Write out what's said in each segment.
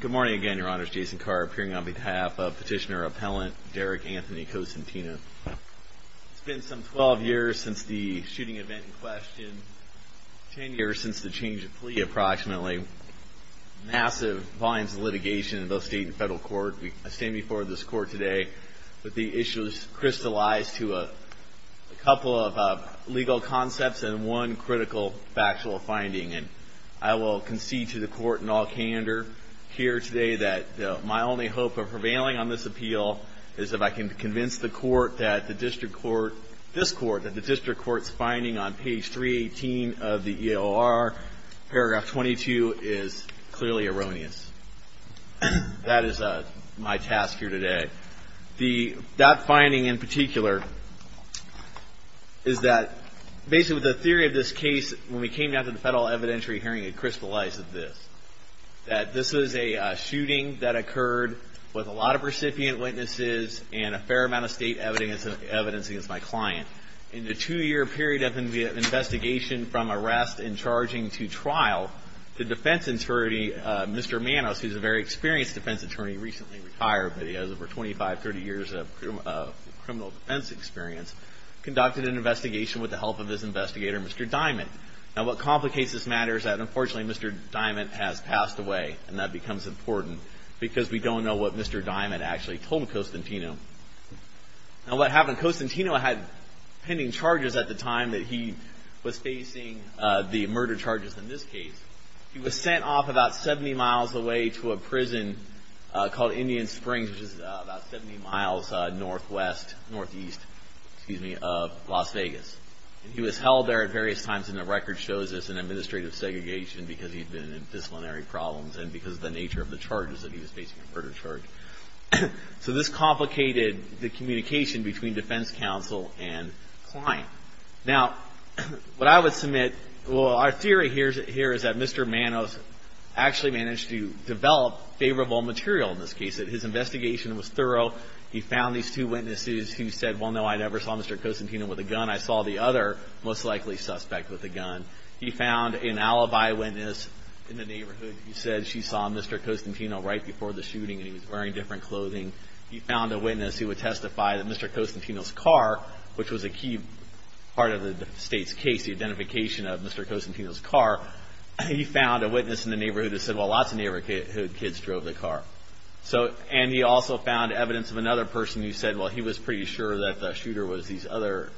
Good morning again, Your Honors. Jason Carr appearing on behalf of Petitioner-Appellant Derek Anthony Cosentino. It's been some 12 years since the shooting event in question, 10 years since the change of plea approximately. Massive volumes of litigation in both state and federal court. I stand before this court today with the issues crystallized to a couple of legal concepts and one critical factual finding. And I will concede to the court in all candor here today that my only hope of prevailing on this appeal is if I can convince the court that the district court, this court, that the district court's finding on page 318 of the EOR, paragraph 22, is clearly erroneous. That is my task here today. That finding in particular is that basically the theory of this case, when we came down to the federal evidentiary hearing, it crystallized as this. That this is a shooting that occurred with a lot of recipient witnesses and a fair amount of state evidence against my client. In the two-year period of investigation from arrest and charging to trial, the defense attorney, Mr. Manos, who's a very experienced defense attorney, recently retired, but he has over 25, 30 years of criminal defense experience, conducted an investigation with the help of his investigator, Mr. Diamond. Now what complicates this matter is that unfortunately Mr. Diamond has passed away and that becomes important because we don't know what Mr. Diamond actually told Costantino. Now what happened, Costantino had pending charges at the time that he was facing the murder charges in this case. He was sent off about 70 miles away to a prison called Indian Springs, which is about 70 miles northwest, northeast, excuse me, of Las Vegas. He was held there at various times and the record shows this in administrative segregation because he'd been in disciplinary problems and because of the nature of the charges that he was facing in murder charge. So this complicated the communication between defense counsel and client. Now what I would submit, well, our theory here is that Mr. Manos actually managed to develop favorable material in this case. His investigation was thorough. He found these two witnesses who said, well, no, I never saw Mr. Costantino with a gun. I saw the other most likely suspect with a gun. He found an alibi witness in the neighborhood who said she saw Mr. Costantino right before the shooting and he was wearing different clothing. He found a witness who would testify that Mr. Costantino's car, which was a key part of the state's case, the identification of Mr. Costantino's car. He found a witness in the neighborhood who said, well, lots of neighborhood kids drove the car. And he also found evidence of another person who said, well, he was pretty sure that the shooter was this other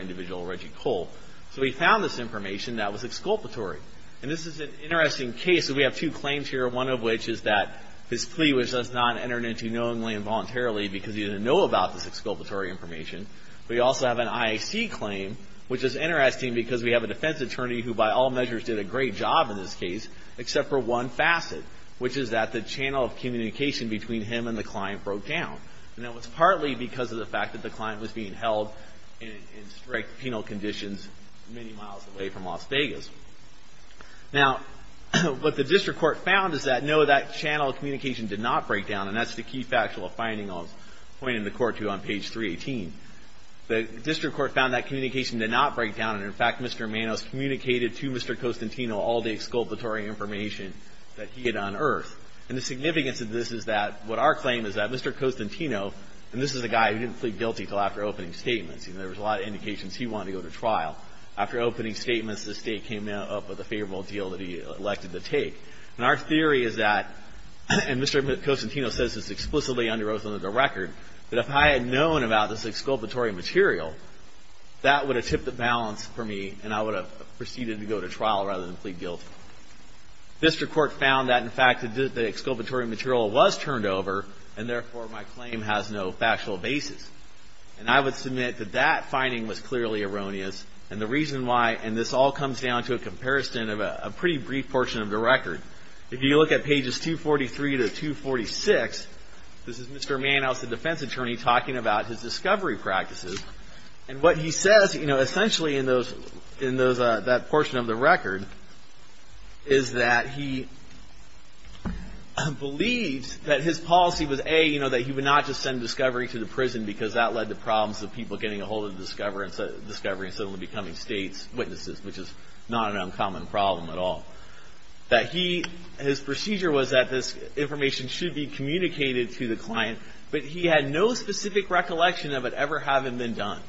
individual, Reggie Cole. So he found this information that was exculpatory. And this is an interesting case. We have two claims here, one of which is that his plea was not entered into knowingly and voluntarily because he didn't know about this exculpatory information. We also have an IAC claim, which is interesting because we have a defense attorney who, by all measures, did a great job in this case except for one facet, which is that the channel of communication between him and the client broke down. And that was partly because of the fact that the client was being held in strict penal conditions many miles away from Las Vegas. Now, what the district court found is that, no, that channel of communication did not break down, and that's the key factual finding I'll point the court to on page 318. The district court found that communication did not break down, and, in fact, Mr. Manos communicated to Mr. Costantino all the exculpatory information that he had unearthed. And the significance of this is that what our claim is that Mr. Costantino, and this is a guy who didn't plead guilty until after opening statements. There was a lot of indications he wanted to go to trial. After opening statements, the state came up with a favorable deal that he elected to take. And our theory is that, and Mr. Costantino says this explicitly under oath under the record, that if I had known about this exculpatory material, that would have tipped the balance for me, and I would have proceeded to go to trial rather than plead guilty. The district court found that, in fact, the exculpatory material was turned over, and, therefore, my claim has no factual basis. And I would submit that that finding was clearly erroneous, and the reason why, and this all comes down to a comparison of a pretty brief portion of the record. If you look at pages 243 to 246, this is Mr. Manos, the defense attorney, talking about his discovery practices, and what he says, you know, essentially in that portion of the record is that he believes that his policy was, A, you know, that he would not just send discovery to the prison because that led to problems of people getting a hold of the discovery and suddenly becoming state's witnesses, which is not an uncommon problem at all. That he, his procedure was that this information should be communicated to the client, but he had no specific recollection of it ever having been done.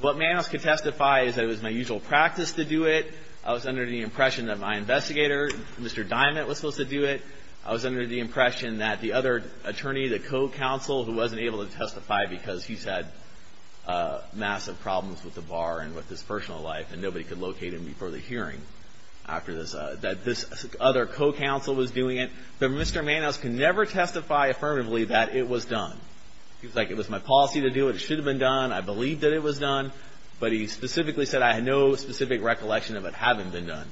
What Manos could testify is that it was my usual practice to do it. I was under the impression that my investigator, Mr. Diamond, was supposed to do it. I was under the impression that the other attorney, the co-counsel, who wasn't able to testify because he's had massive problems with the bar and with his personal life, and nobody could locate him before the hearing after this, that this other co-counsel was doing it. But Mr. Manos can never testify affirmatively that it was done. He's like, it was my policy to do it. It should have been done. I believed that it was done, but he specifically said, I had no specific recollection of it having been done.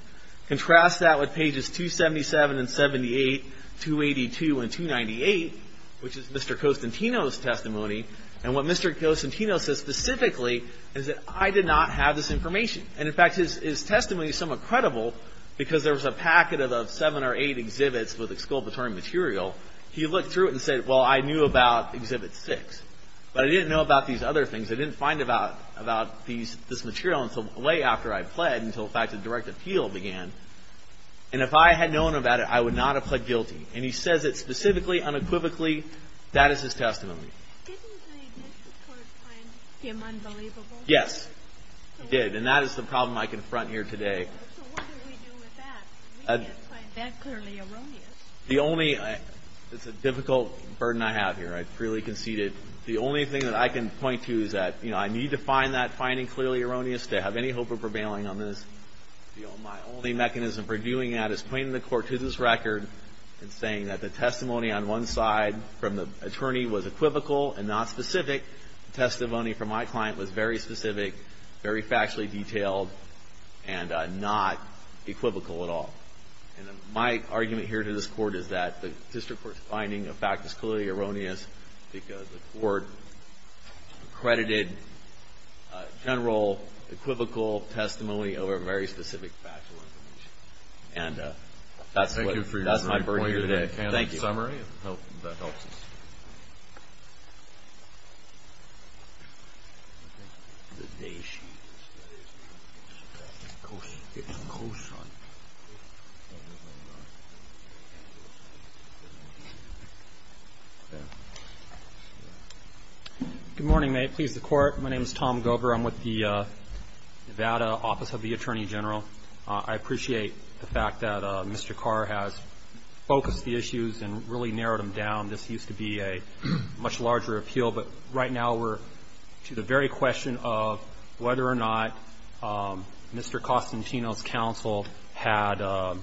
Contrast that with pages 277 and 78, 282 and 298, which is Mr. Costantino's testimony. And what Mr. Costantino says specifically is that I did not have this information. And, in fact, his testimony is somewhat credible, because there was a packet of seven or eight exhibits with exculpatory material. He looked through it and said, well, I knew about Exhibit 6, but I didn't know about these other things. I didn't find about this material until way after I pled, until, in fact, the direct appeal began. And if I had known about it, I would not have pled guilty. And he says it specifically, unequivocally. That is his testimony. Didn't the extort plan seem unbelievable? Yes, it did. And that is the problem I confront here today. So what do we do with that? We can't find that clearly erroneous. It's a difficult burden I have here. I freely conceded. The only thing that I can point to is that I need to find that finding clearly erroneous to have any hope of prevailing on this. My only mechanism for doing that is pointing the court to this record and saying that the testimony on one side from the attorney was equivocal and not specific. The testimony from my client was very specific, very factually detailed, and not equivocal at all. And my argument here to this court is that the district court's finding of fact is clearly erroneous because the court accredited general equivocal testimony over very specific factual information. And that's my point here today. Thank you. That helps us. Good morning. May it please the Court. My name is Tom Gover. I'm with the Nevada Office of the Attorney General. I appreciate the fact that Mr. Carr has focused the issues and really narrowed them down. This used to be a much larger appeal, but right now we're to the very question of whether or not Mr. Costantino's counsel had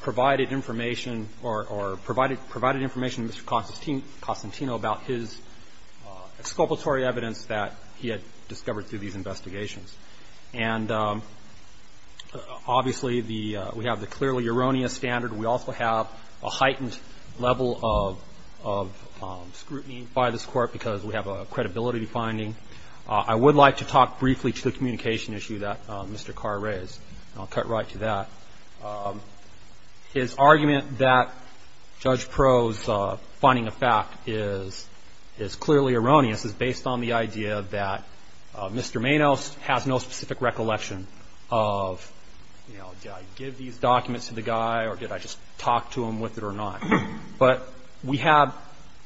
provided information or provided information to Mr. Costantino about his exculpatory evidence that he had discovered through these investigations. And obviously, we have the clearly erroneous standard. We also have a heightened level of scrutiny by this Court because we have a credibility finding. I would like to talk briefly to the communication issue that Mr. Carr raised, and I'll cut right to that. His argument that Judge Pro's finding of fact is clearly erroneous is based on the idea that Mr. Manos has no specific recollection of, you know, did I give these documents to the guy or did I just talk to him with it or not? But we have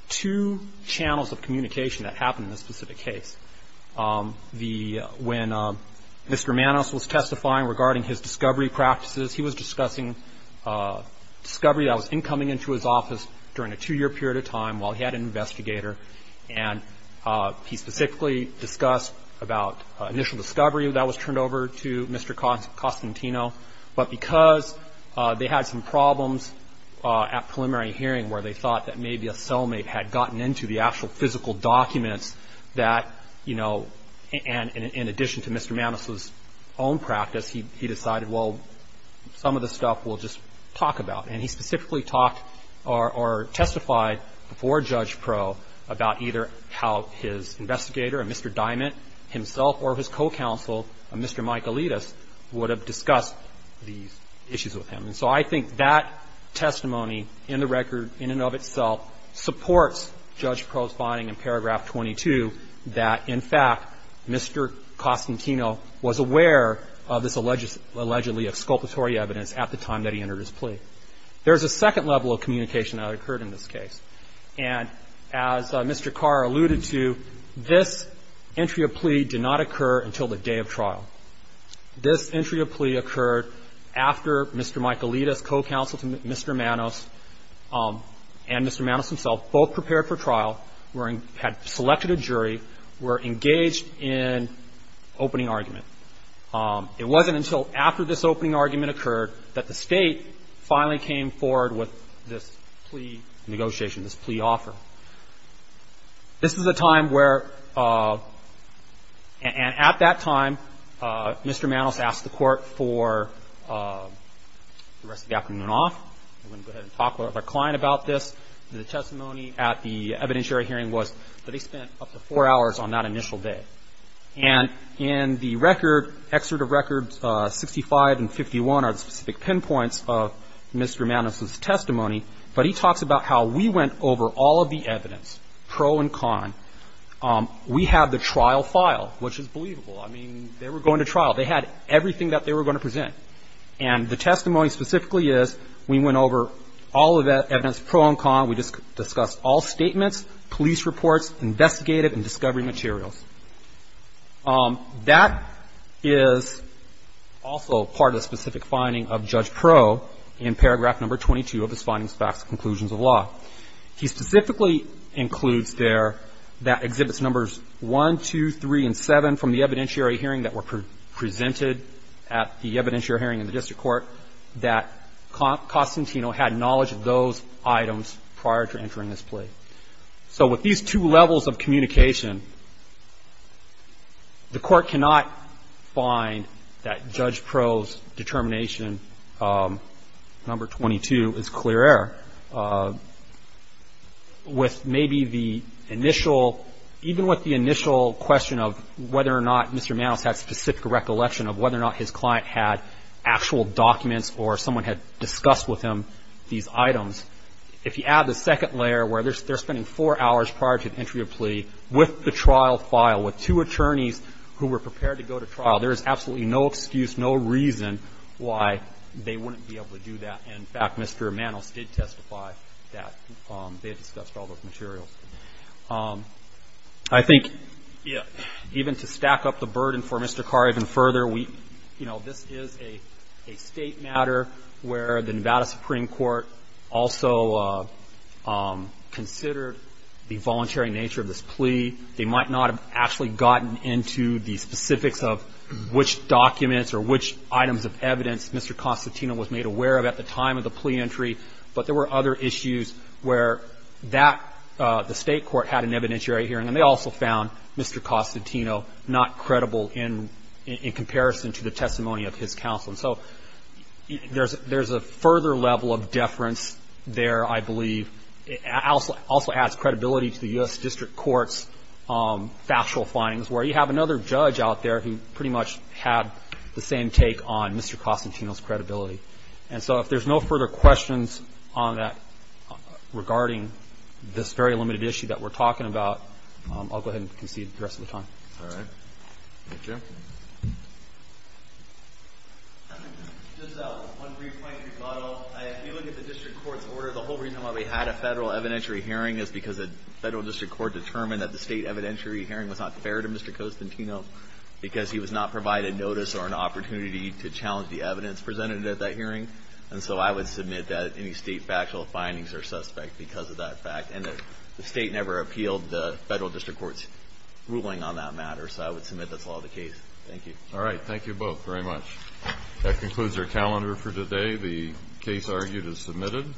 two channels of communication that happen in this specific case. When Mr. Manos was testifying regarding his discovery practices, he was discussing discovery that was incoming into his office during a two-year period of time while he had an investigator, and he specifically discussed about initial discovery that was turned over to Mr. Costantino. But because they had some problems at preliminary hearing where they thought that maybe a cellmate had gotten into the actual physical documents that, you know, and in addition to Mr. Manos's own practice, he decided, well, some of this stuff we'll just talk about. And he specifically talked or testified before Judge Pro about either how his investigator, Mr. Diamond himself, or his co-counsel, Mr. Mike Alitas, would have discussed these issues with him. And so I think that testimony in the record in and of itself supports Judge Pro's finding in paragraph 22 that, in fact, Mr. Costantino was aware of this allegedly exculpatory evidence at the time that he entered his plea. There's a second level of communication that occurred in this case. And as Mr. Carr alluded to, this entry of plea did not occur until the day of trial. This entry of plea occurred after Mr. Mike Alitas, co-counsel to Mr. Manos, and Mr. Manos himself both prepared for trial, had selected a jury, were engaged in opening argument. It wasn't until after this opening argument occurred that the State finally came forward with this plea negotiation, this plea offer. This is a time where, and at that time, Mr. Manos asked the Court for the rest of the afternoon off. We're going to go ahead and talk with our client about this. The testimony at the evidentiary hearing was that he spent up to four hours on that initial day. And in the record, excerpt of records 65 and 51 are the specific pinpoints of Mr. Manos' testimony, but he talks about how we went over all of the evidence, pro and con. We have the trial file, which is believable. I mean, they were going to trial. They had everything that they were going to present. And the testimony specifically is we went over all of that evidence, pro and con. We discussed all statements, police reports, investigative and discovery materials. That is also part of the specific finding of Judge Pro in paragraph number 22 of his findings, facts, conclusions of law. He specifically includes there that exhibits numbers 1, 2, 3, and 7 from the evidentiary hearing that were presented at the evidentiary hearing in the district court, that Costantino had knowledge of those items prior to entering this plea. So with these two levels of communication, the Court cannot find that Judge Pro's determination, number 22, is clear error. With maybe the initial, even with the initial question of whether or not Mr. Manos had specific recollection of whether or not his client had actual documents or someone had discussed with him these items, if you add the second layer where they're spending four hours prior to the entry of plea with the trial file, with two attorneys who were prepared to go to trial, there is absolutely no excuse, no reason why they wouldn't be able to do that. In fact, Mr. Manos did testify that they had discussed all those materials. I think even to stack up the burden for Mr. Carr even further, you know, this is a State matter where the Nevada Supreme Court also considered the voluntary nature of this plea. They might not have actually gotten into the specifics of which documents or which items of evidence Mr. Costantino was made aware of at the time of the plea entry, but there were other issues where that, the State court had an evidentiary hearing and they also found Mr. Costantino not credible in comparison to the testimony of his counsel. So there's a further level of deference there, I believe. It also adds credibility to the U.S. District Court's factual findings where you have another judge out there who pretty much had the same take on Mr. Costantino's credibility. And so if there's no further questions on that regarding this very limited issue that we're talking about, I'll go ahead and concede the rest of the time. All right. Thank you. Just one brief point to rebuttal. If you look at the District Court's order, the whole reason why we had a Federal evidentiary hearing is because the Federal District Court determined that the State evidentiary hearing was not fair to Mr. Costantino because he was not provided notice or an opportunity to challenge the evidence presented at that hearing. And so I would submit that any State factual findings are suspect because of that fact and that the State never appealed the Federal District Court's ruling on that matter. So I would submit that's all the case. Thank you. All right. Thank you both very much. That concludes our calendar for today. The case argued is submitted.